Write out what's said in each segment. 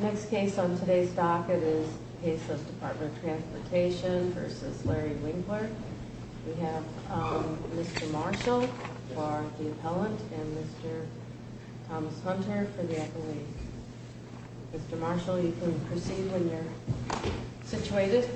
Next case on today's docket is the case of Department of Transportation v. Larry Winkler. We have Mr. Marshall for the appellant and Mr. Thomas Hunter for the appellant. Mr. Marshall, you can proceed when you're situated.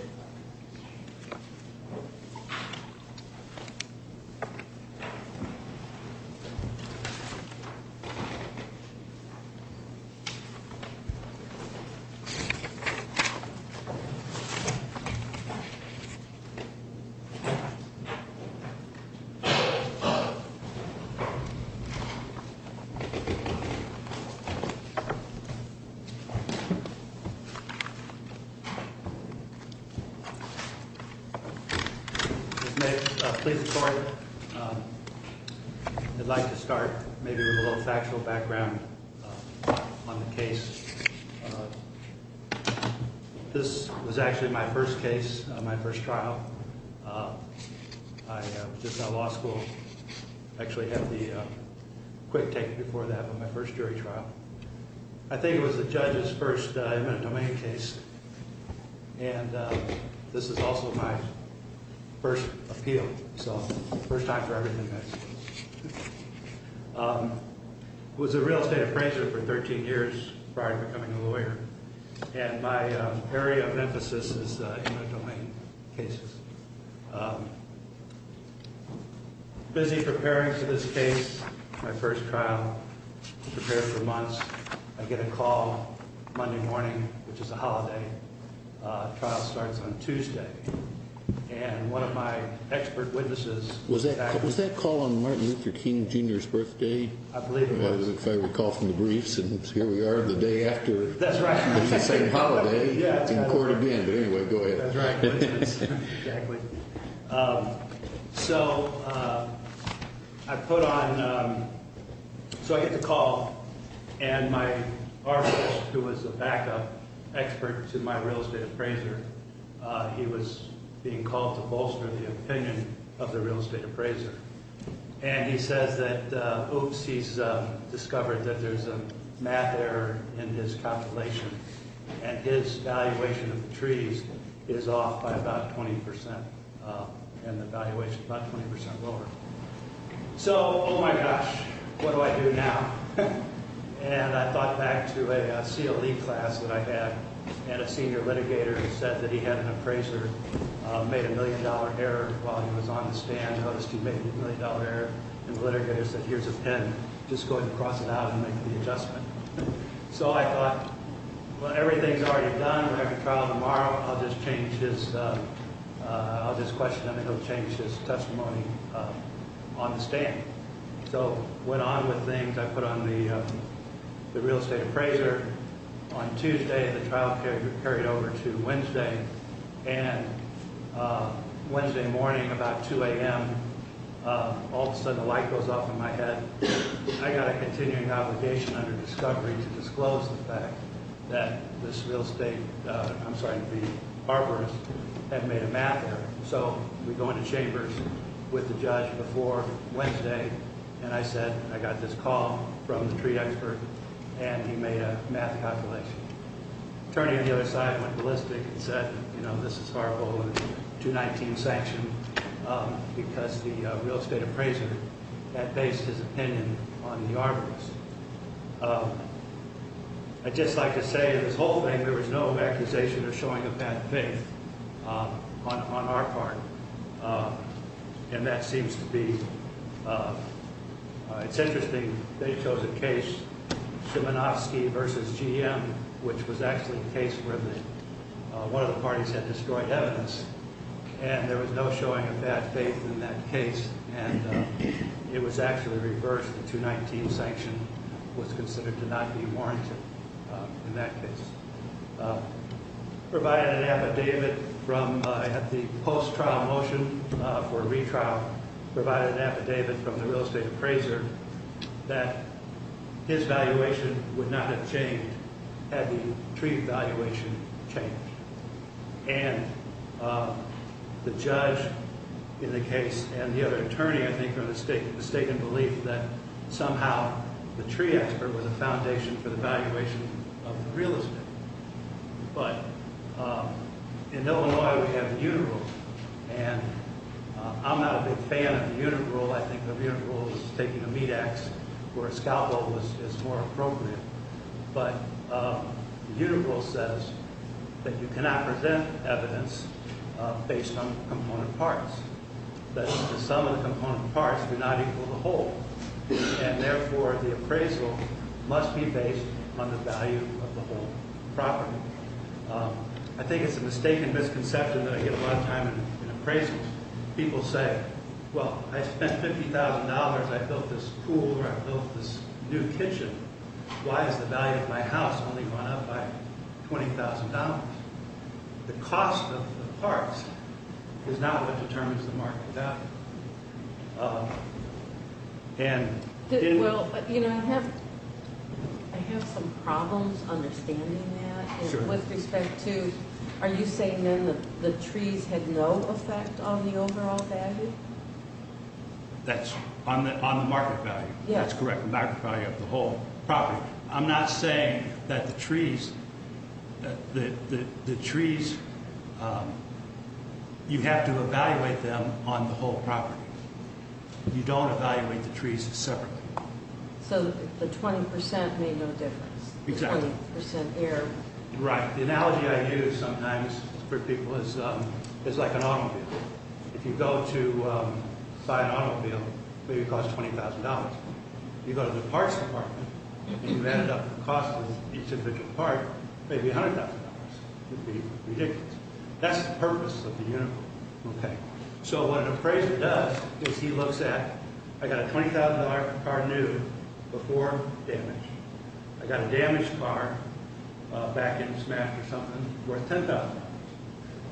Mr. Marshall, you may be seated. This was actually my first case, my first trial. I was just out of law school. I actually had the quick take before that, but my first jury trial. I think it was the judge's first eminent domain case. And this is also my first appeal, so first time for everything. I was a real estate appraiser for 13 years prior to becoming a lawyer. And my area of emphasis is in the domain cases. Busy preparing for this case, my first trial, prepared for months. I get a call Monday morning, which is a holiday. The trial starts on Tuesday. And one of my expert witnesses. Was that call on Martin Luther King Jr.'s birthday? I believe it was. If I recall from the briefs, and here we are the day after. That's right. It's the same holiday, in court again. But anyway, go ahead. That's right. Exactly. So I put on, so I get the call. And my arbiter, who was a backup expert to my real estate appraiser. He was being called to bolster the opinion of the real estate appraiser. And he says that, oops, he's discovered that there's a math error in his calculation. And his valuation of the trees is off by about 20%. And the valuation is about 20% lower. So, oh my gosh, what do I do now? And I thought back to a CLE class that I had. And a senior litigator said that he had an appraiser made a million dollar error while he was on the stand. Noticed he made a million dollar error. And the litigator said, here's a pen. Just go ahead and cross it out and make the adjustment. So I thought, well, everything's already done. We have a trial tomorrow. I'll just change his, I'll just question him. And he'll change his testimony on the stand. So I went on with things. I put on the real estate appraiser. On Tuesday, the trial carried over to Wednesday. And Wednesday morning, about 2 a.m., all of a sudden, a light goes off in my head. I got a continuing obligation under discovery to disclose the fact that this real estate, I'm sorry, the arbiter had made a math error. So we go into chambers with the judge before Wednesday. And I said, I got this call from the tree expert, and he made a math calculation. Attorney on the other side went ballistic and said, you know, this is horrible. It's a 219 sanction because the real estate appraiser had based his opinion on the arbiters. I'd just like to say this whole thing, there was no accusation or showing of bad faith on our part. And that seems to be, it's interesting. They chose a case, Szymanowski versus GM, which was actually the case where one of the parties had destroyed evidence. And there was no showing of bad faith in that case. And it was actually reversed. The 219 sanction was considered to not be warranted in that case. Provided an affidavit from, at the post-trial motion for retrial, provided an affidavit from the real estate appraiser that his valuation would not have changed had the tree valuation changed. And the judge in the case and the other attorney, I think, are mistaken in the belief that somehow the tree expert was a foundation for the valuation of the real estate. But in Illinois, we have the Univ. Rule. And I'm not a big fan of the Univ. Rule. I think the Univ. Rule is taking a meat ax where a scalpel is more appropriate. But the Univ. Rule says that you cannot present evidence based on component parts. That the sum of the component parts do not equal the whole. And therefore, the appraisal must be based on the value of the whole property. I think it's a mistaken misconception that I get a lot of time in appraisals. People say, well, I spent $50,000. I built this pool or I built this new kitchen. Why is the value of my house only going up by $20,000? The cost of the parts is not what determines the market value. Well, you know, I have some problems understanding that. With respect to, are you saying then the trees had no effect on the overall value? That's on the market value. That's correct. The market value of the whole property. I'm not saying that the trees, you have to evaluate them on the whole property. You don't evaluate the trees separately. So the 20% made no difference. Exactly. The 20% error. Right. The analogy I use sometimes for people is like an automobile. If you go to buy an automobile, maybe it costs $20,000. You go to the parts department and you add up the cost of each individual part, maybe $100,000. It would be ridiculous. That's the purpose of the uniform. Okay. So what an appraiser does is he looks at, I got a $20,000 car new before damage. I got a damaged car back in smash or something worth $10,000.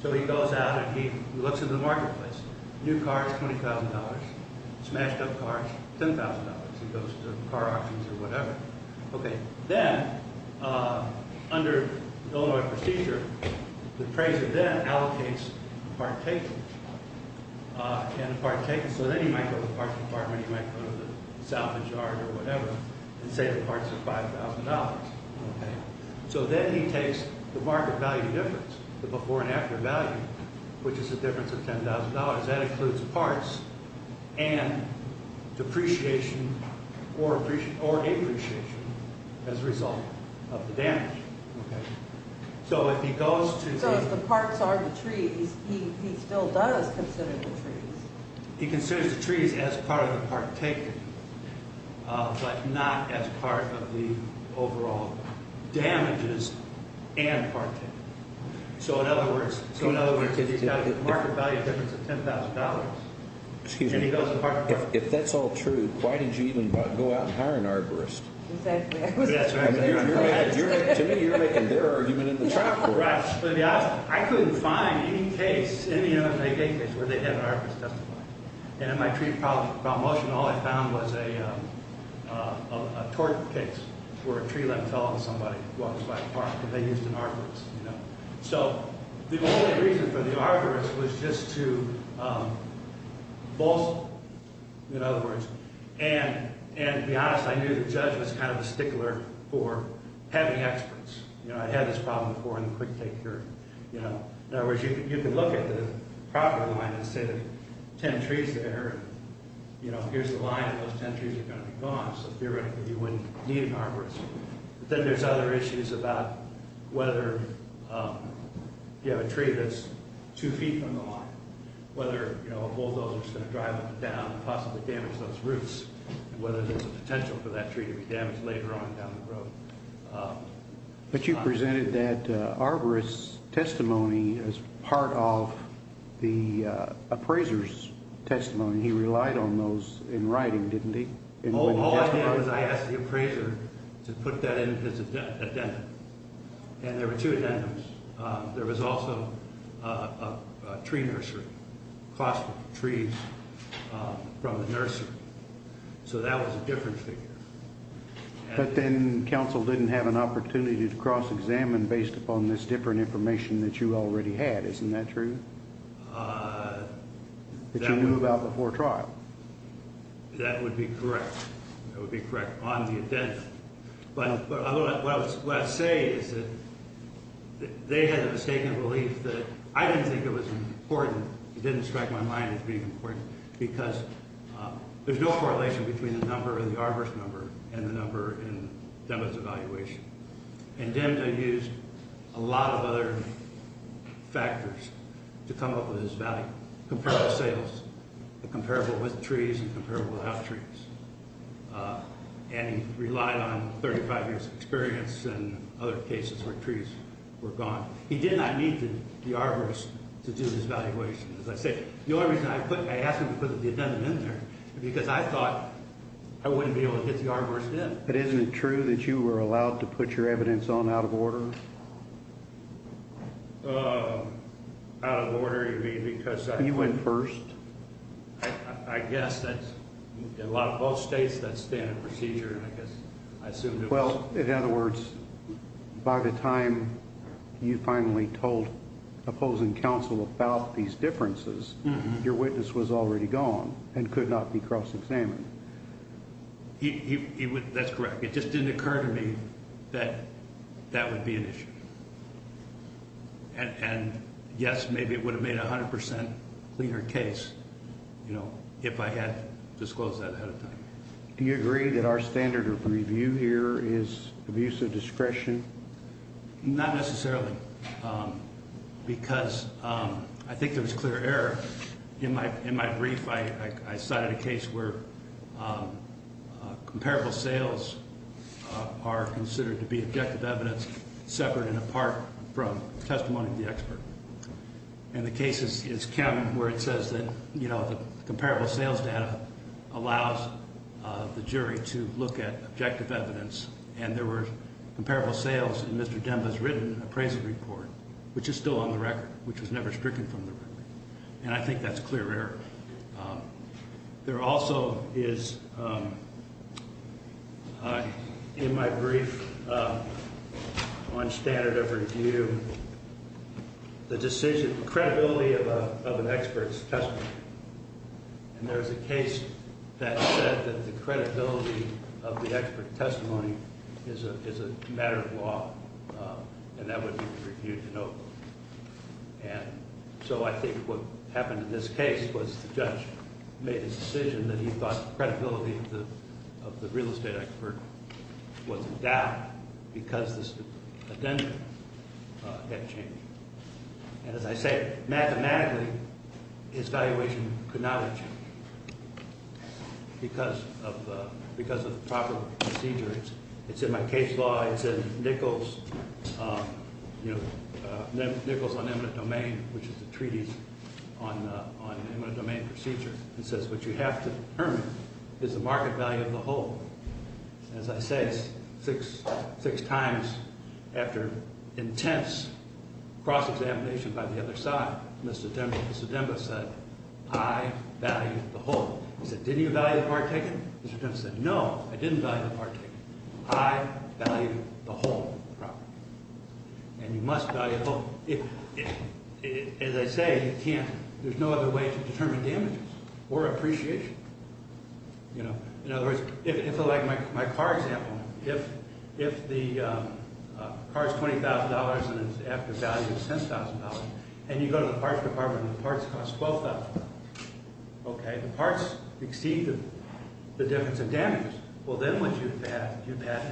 So he goes out and he looks at the marketplace. New cars, $20,000. Smashed up cars, $10,000. He goes to car auctions or whatever. Okay. Then under the Illinois procedure, the appraiser then allocates the part taken. So then he might go to the parts department. He might go to the salvage yard or whatever and say the parts are $5,000. Okay. So then he takes the market value difference, the before and after value, which is the difference of $10,000. That includes parts and depreciation or appreciation as a result of the damage. Okay. So if he goes to the- So if the parts are the trees, he still does consider the trees. He considers the trees as part of the part taken but not as part of the overall damages and part taken. So, in other words, he's got a market value difference of $10,000. Excuse me. And he goes to the parts department. If that's all true, why did you even go out and hire an arborist? Exactly. That's right. To me, you're making their argument in the top court. Right. I couldn't find any case, any Illinois case, where they had an arborist testify. And in my tree promotion, all I found was a torch pit where a tree limb fell on somebody who was by the park. And they used an arborist, you know. So the only reason for the arborist was just to boast, in other words. And to be honest, I knew the judge was kind of a stickler for having experts. You know, I had this problem before in the quick take hearing, you know. In other words, you can look at the property line and say there are 10 trees there. You know, here's the line and those 10 trees are going to be gone. So theoretically, you wouldn't need an arborist. But then there's other issues about whether you have a tree that's two feet from the line. Whether, you know, a bulldozer is going to drive up and down and possibly damage those roots. Whether there's a potential for that tree to be damaged later on down the road. But you presented that arborist's testimony as part of the appraiser's testimony. He relied on those in writing, didn't he? All I did was I asked the appraiser to put that in his addendum. And there were two addendums. There was also a tree nursery. Cost of trees from the nursery. So that was a different figure. But then counsel didn't have an opportunity to cross-examine based upon this different information that you already had. Isn't that true? That you knew about before trial. That would be correct. That would be correct on the addendum. But what I say is that they had the mistaken belief that I didn't think it was important. It didn't strike my mind as being important. Because there's no correlation between the number or the arborist number and the number in DEMDA's evaluation. And DEMDA used a lot of other factors to come up with his value. Comparable sales. Comparable with trees and comparable without trees. And he relied on 35 years of experience and other cases where trees were gone. He did not need the arborist to do his evaluation. As I say, the only reason I asked him to put the addendum in there is because I thought I wouldn't be able to get the arborist in. But isn't it true that you were allowed to put your evidence on out of order? Out of order, you mean because I... You went first. I guess. In a lot of both states, that's standard procedure. And I guess I assumed it was... Well, in other words, by the time you finally told opposing counsel about these differences, your witness was already gone and could not be cross-examined. That's correct. It just didn't occur to me that that would be an issue. And, yes, maybe it would have made a 100% cleaner case if I had disclosed that ahead of time. Do you agree that our standard of review here is abuse of discretion? Not necessarily because I think there was clear error. In my brief, I cited a case where comparable sales are considered to be objective evidence separate and apart from testimony of the expert. And the case is Kem where it says that, you know, the comparable sales data allows the jury to look at objective evidence. And there were comparable sales in Mr. Demba's written appraisal report, which is still on the record, which was never stricken from the record. And I think that's clear error. There also is, in my brief on standard of review, the decision, the credibility of an expert's testimony. And there's a case that said that the credibility of the expert's testimony is a matter of law, and that would be reviewed in Oakland. And so I think what happened in this case was the judge made his decision that he thought the credibility of the real estate expert was in doubt because this addendum had changed. And as I say, mathematically, his valuation could not have changed because of the proper procedure. It's in my case law. It's in Nichols, you know, Nichols on eminent domain, which is the treaties on eminent domain procedure. It says what you have to determine is the market value of the whole. And as I say, six times after intense cross-examination by the other side, Mr. Demba said, I value the whole. He said, did you value the part taken? Mr. Demba said, no, I didn't value the part taken. I value the whole property. And you must value the whole. As I say, you can't, there's no other way to determine damages or appreciation. In other words, if like my car example, if the car is $20,000 and it's after value of $10,000, and you go to the parts department and the parts cost $12,000. Okay, the parts exceed the difference in damages. Well, then what you've had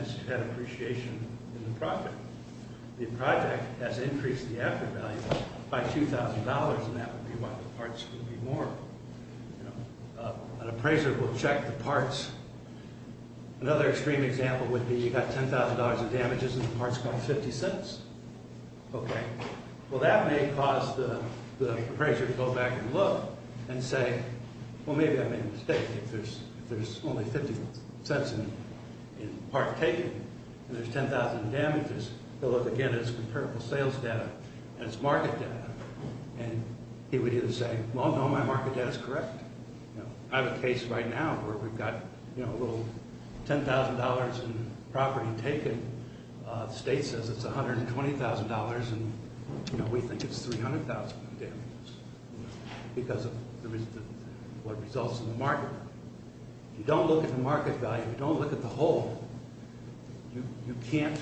is you've had appreciation in the profit. The project has increased the after value by $2,000, and that would be why the parts would be more, you know. An appraiser will check the parts. Another extreme example would be you got $10,000 in damages and the parts cost 50 cents. Okay. Well, that may cause the appraiser to go back and look and say, well, maybe I made a mistake. If there's only 50 cents in part taken and there's 10,000 damages, they'll look again at its comparable sales data and its market data. And he would either say, well, no, my market data is correct. I have a case right now where we've got, you know, a little $10,000 in property taken. The state says it's $120,000, and, you know, we think it's $300,000 in damages because of what results in the market. You don't look at the market value. You don't look at the whole. You can't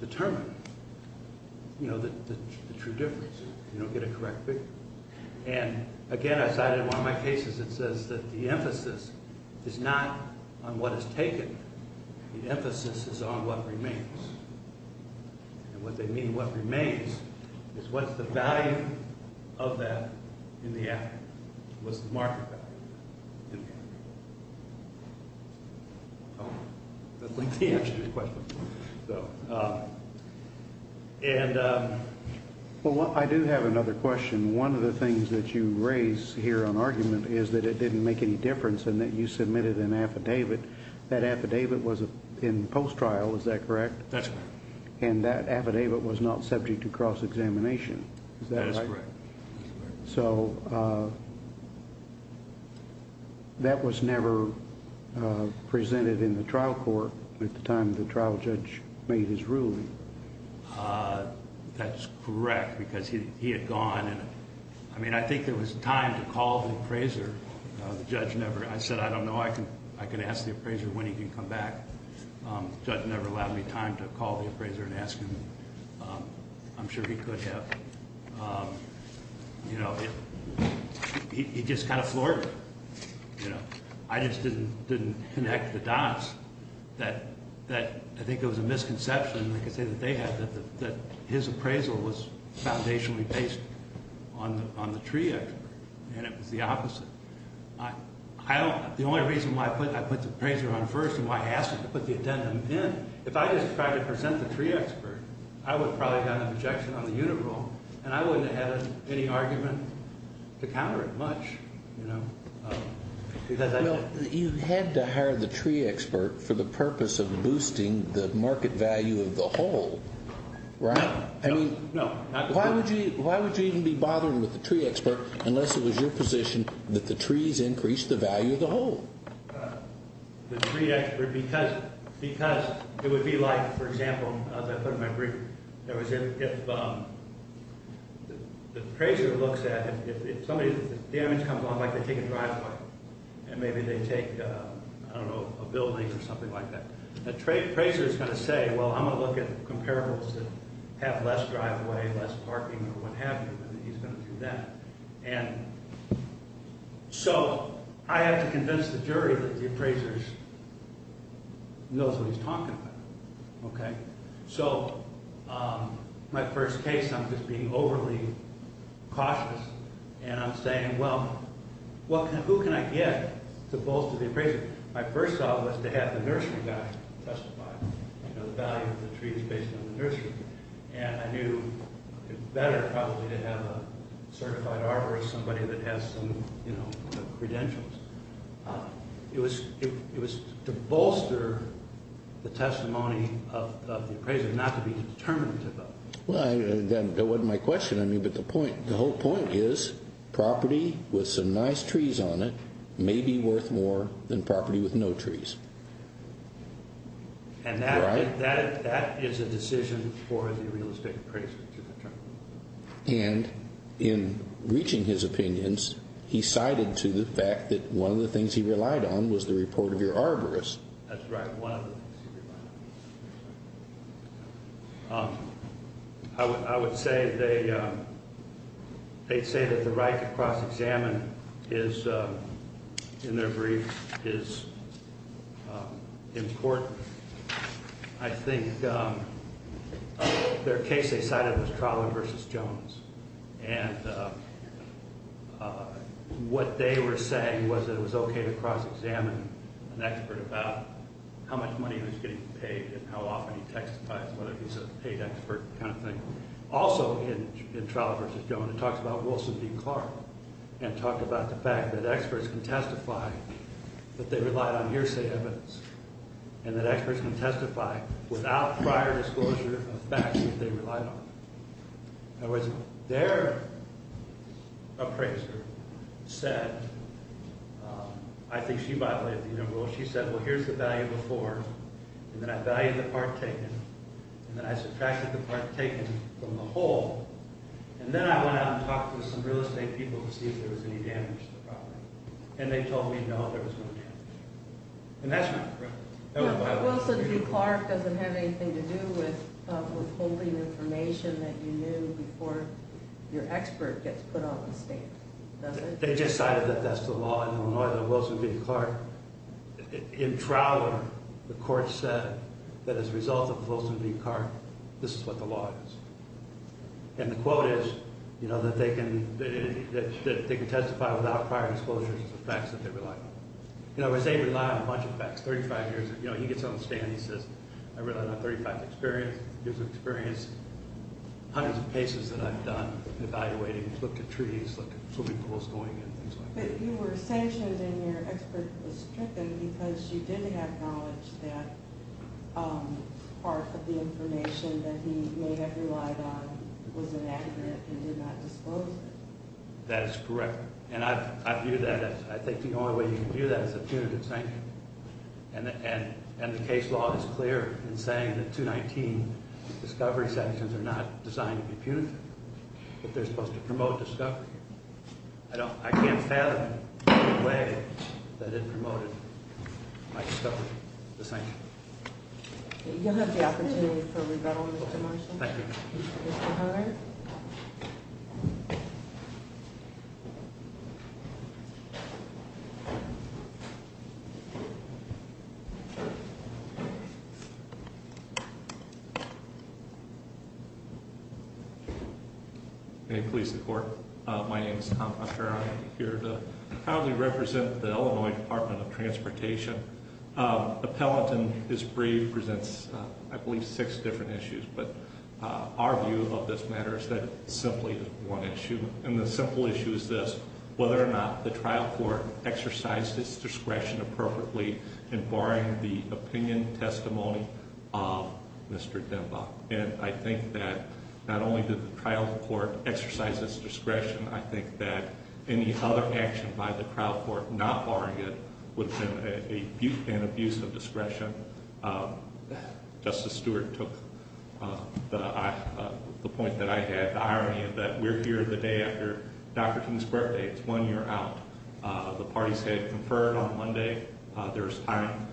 determine, you know, the true difference. You don't get a correct figure. And, again, I cited one of my cases that says that the emphasis is not on what is taken. The emphasis is on what remains. And what they mean, what remains, is what's the value of that in the appraiser? What's the market value in the appraiser? I don't think the answer to your question. So, and ‑‑ Well, I do have another question. One of the things that you raise here on argument is that it didn't make any difference in that you submitted an affidavit. That affidavit was in post-trial. Is that correct? That's correct. And that affidavit was not subject to cross-examination. Is that right? That is correct. So that was never presented in the trial court at the time the trial judge made his ruling. That's correct because he had gone. And, I mean, I think there was time to call the appraiser. I said, I don't know, I can ask the appraiser when he can come back. The judge never allowed me time to call the appraiser and ask him. I'm sure he could have. He just kind of floored me. I just didn't connect the dots. I think it was a misconception, like I say, that they had, that his appraisal was foundationally based on the tree expert, and it was the opposite. The only reason why I put the appraiser on first and why I asked him to put the addendum in, if I just tried to present the tree expert, I would have probably gotten an objection on the unit rule, and I wouldn't have had any argument to counter it much. You had to hire the tree expert for the purpose of boosting the market value of the whole, right? No. Why would you even be bothering with the tree expert unless it was your position that the trees increased the value of the whole? The tree expert because it would be like, for example, as I put in my brief, if the appraiser looks at it, if the damage comes along, like they take a driveway, and maybe they take, I don't know, a building or something like that, the appraiser is going to say, well, I'm going to look at comparables that have less driveway, less parking, or what have you, and he's going to do that. So I had to convince the jury that the appraiser knows what he's talking about. Okay? So my first case, I'm just being overly cautious, and I'm saying, well, who can I get to bolster the appraiser? My first thought was to have the nursery guy testify, you know, the value of the tree is based on the nursery, and I knew it was better probably to have a certified arborist, somebody that has some, you know, credentials. It was to bolster the testimony of the appraiser, not to be determinative of it. Well, that wasn't my question. I mean, but the whole point is property with some nice trees on it may be worth more than property with no trees. And that is a decision for the realistic appraiser to determine. And in reaching his opinions, he cited to the fact that one of the things he relied on was the report of your arborist. That's right, one of the things he relied on. I would say that the right to cross-examine is, in their brief, is important. I think their case they cited was Trolley v. Jones, and what they were saying was that it was okay to cross-examine an expert about how much money he was getting paid and how often he testified, whether he's a paid expert kind of thing. Also in Trolley v. Jones, it talks about Wilson v. Clark, and talked about the fact that experts can testify that they relied on hearsay evidence and that experts can testify without prior disclosure of facts that they relied on. In other words, their appraiser said, I think she violated the rule, she said, well, here's the value before, and then I valued the part taken, and then I subtracted the part taken from the whole, and then I went out and talked to some real estate people to see if there was any damage to the property. And they told me, no, there was no damage. And that's not correct. Wilson v. Clark doesn't have anything to do with withholding information that you knew before your expert gets put on the stand, does it? They just cited that that's the law in Illinois, that Wilson v. Clark. In Trowler, the court said that as a result of Wilson v. Clark, this is what the law is. And the quote is that they can testify without prior disclosure of facts that they relied on. In other words, they rely on a bunch of facts. 35 years, you know, he gets on the stand, he says, I relied on 35 years of experience, hundreds of cases that I've done, evaluating, looked at trees, looked at swimming pools, going in, things like that. But you were sanctioned and your expert was stricken because you didn't have knowledge that part of the information that he may have relied on was inaccurate and did not disclose it. That is correct. And I view that as, I think the only way you can view that is a punitive sanction. And the case law is clear in saying that 219 discovery sanctions are not designed to be punitive, but they're supposed to promote discovery. I can't fathom any way that it promoted my discovery, the sanction. You'll have the opportunity for rebuttal, Mr. Marshall. Thank you. Mr. Hunter. May it please the court. My name is Tom Hunter. I'm here to proudly represent the Illinois Department of Transportation. Appellant and his brief presents, I believe, six different issues. But our view of this matter is that it's simply one issue. And the simple issue is this, whether or not the trial court exercised its discretion appropriately in barring the opinion testimony of Mr. Demba. And I think that not only did the trial court exercise its discretion, I think that any other action by the trial court not barring it would have been an abuse of discretion. Justice Stewart took the point that I had, the irony of that. We're here the day after Dr. King's birthday. It's one year out. The parties had conferred on Monday. There was time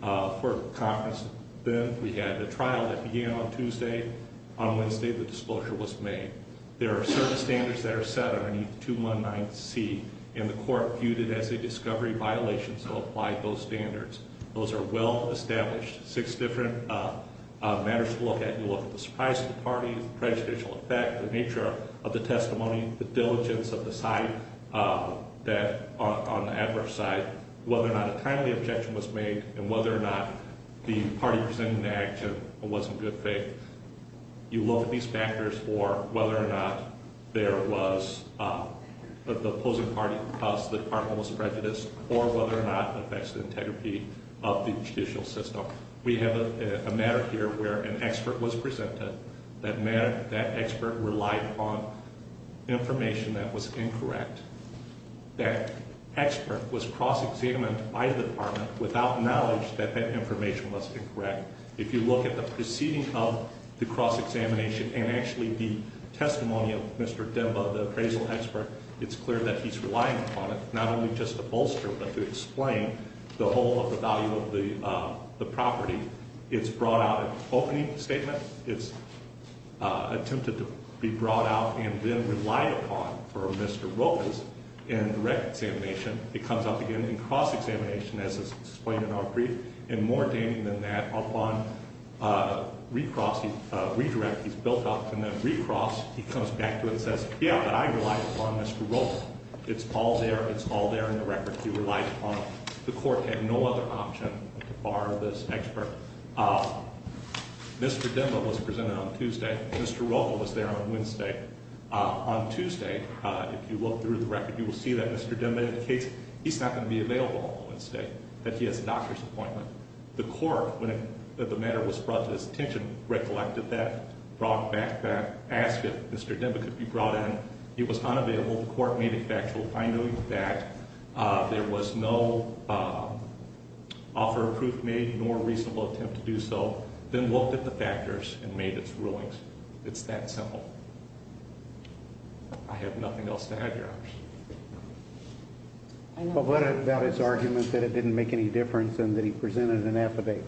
for conference then. We had the trial that began on Tuesday. On Wednesday, the disclosure was made. There are certain standards that are set underneath 219C, and the court viewed it as a discovery violation, so applied those standards. Those are well-established. Six different matters to look at. You look at the surprise to the party, the prejudicial effect, the nature of the testimony, the diligence of the side on the adverse side, whether or not a timely objection was made, and whether or not the party presented an action and was in good faith. You look at these factors for whether or not there was the opposing party, because the department was prejudiced, or whether or not it affects the integrity of the judicial system. We have a matter here where an expert was presented. That expert relied on information that was incorrect. That expert was cross-examined by the department without knowledge that that information was incorrect. If you look at the proceeding of the cross-examination and actually the testimony of Mr. Demba, the appraisal expert, it's clear that he's relying upon it not only just to bolster, but to explain the whole of the value of the property. It's brought out an opening statement. It's attempted to be brought out and then relied upon for Mr. Rocha's indirect examination. It comes up again in cross-examination, as is explained in our brief. And more damning than that, upon re-crossing, redirect, he's built up. And then re-cross, he comes back to it and says, yeah, but I relied upon Mr. Rocha. It's all there. It's all there in the record. He relied upon it. The court had no other option to bar this expert. Mr. Demba was presented on Tuesday. Mr. Rocha was there on Wednesday. On Tuesday, if you look through the record, you will see that Mr. Demba indicates he's not going to be available on Wednesday, that he has a doctor's appointment. The court, when the matter was brought to his attention, recollected that, brought back that, asked if Mr. Demba could be brought in. He was unavailable. The court made it factual, finding that there was no offer of proof made nor reasonable attempt to do so, then looked at the factors and made its rulings. It's that simple. But what about his argument that it didn't make any difference and that he presented an affidavit?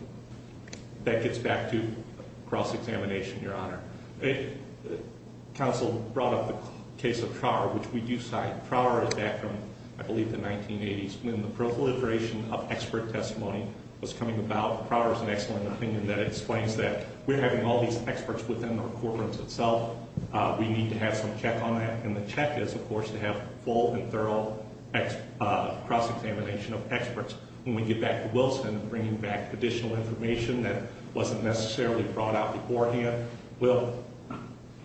That gets back to cross-examination, Your Honor. Counsel brought up the case of Trower, which we do cite. Trower is back from, I believe, the 1980s, when the proliferation of expert testimony was coming about. Trower has an excellent opinion that explains that. We're having all these experts within our corporates itself. We need to have some check on that. And the check is, of course, to have full and thorough cross-examination of experts. When we get back to Wilson, bringing back additional information that wasn't necessarily brought out beforehand, what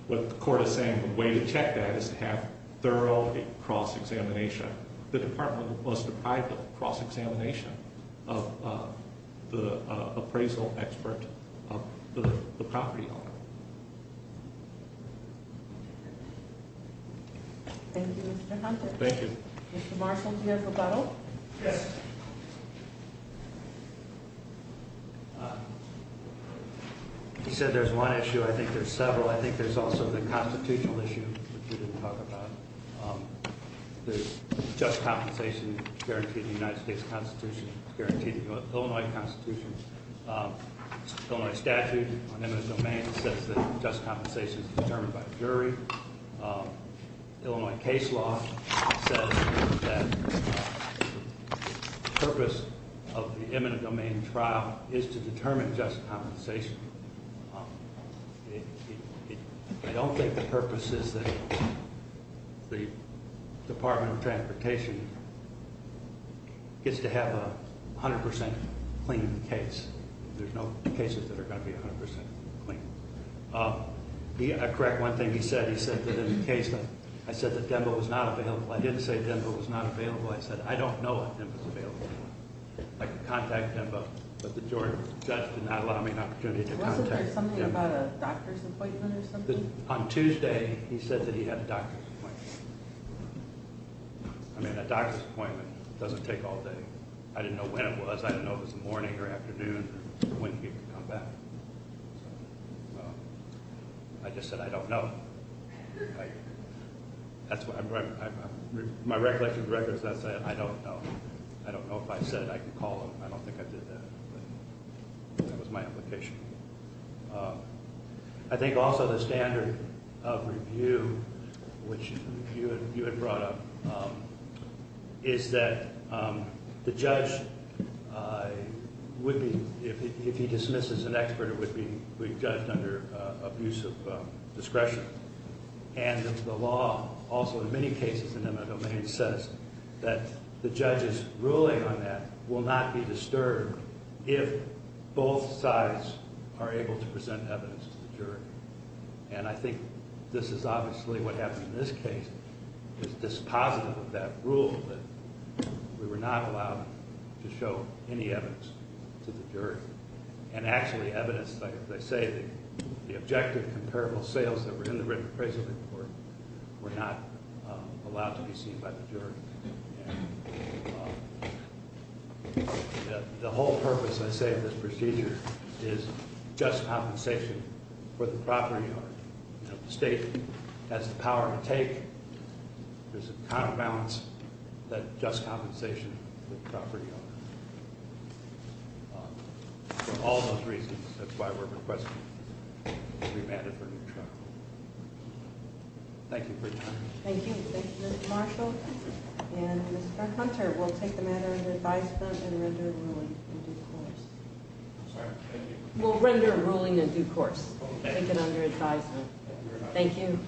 the court is saying, the way to check that is to have thorough cross-examination. The department was deprived of cross-examination of the appraisal expert of the property owner. Thank you, Mr. Hunter. Thank you. Mr. Marshall, do you have a rebuttal? Yes. You said there's one issue. I think there's several. I think there's also the constitutional issue, which you didn't talk about. There's just compensation guaranteed in the United States Constitution. It's guaranteed in the Illinois Constitution. Illinois statute on eminent domain says that just compensation is determined by the jury. Illinois case law says that the purpose of the eminent domain trial is to determine just compensation. I don't think the purpose is that the Department of Transportation gets to have a 100% clean case. There's no cases that are going to be 100% clean. I correct one thing he said. He said that in the case law, I said that DEMBA was not available. I didn't say DEMBA was not available. I said, I don't know if DEMBA is available. I could contact DEMBA, but the jury judge did not allow me an opportunity to contact DEMBA. Wasn't there something about a doctor's appointment or something? On Tuesday, he said that he had a doctor's appointment. I mean, a doctor's appointment doesn't take all day. I didn't know when it was. I didn't know if it was morning or afternoon or when he would come back. I just said, I don't know. My recollection of records, I said, I don't know. I don't know if I said I could call them. I don't think I did that. That was my application. I think also the standard of review, which you had brought up, is that the judge would be, if he dismisses an expert, it would be judged under abuse of discretion. The law, also in many cases in DEMBA domain, says that the judge's ruling on that will not be disturbed if both sides are able to present evidence to the jury. I think this is obviously what happened in this case. It's dispositive of that rule that we were not allowed to show any evidence to the jury. And actually evidence, as I say, the objective comparable sales that were in the written appraisal report were not allowed to be seen by the jury. The whole purpose, I say, of this procedure is just compensation for the property owner. If the state has the power to take, there's a counterbalance that just compensation for the property owner. For all those reasons, that's why we're requesting a remanded for new trial. Thank you for your time. Thank you. Thank you, Mr. Marshall. And Mr. Hunter, we'll take the matter under advisement and render a ruling in due course. We'll render a ruling in due course. Take it under advisement. Thank you.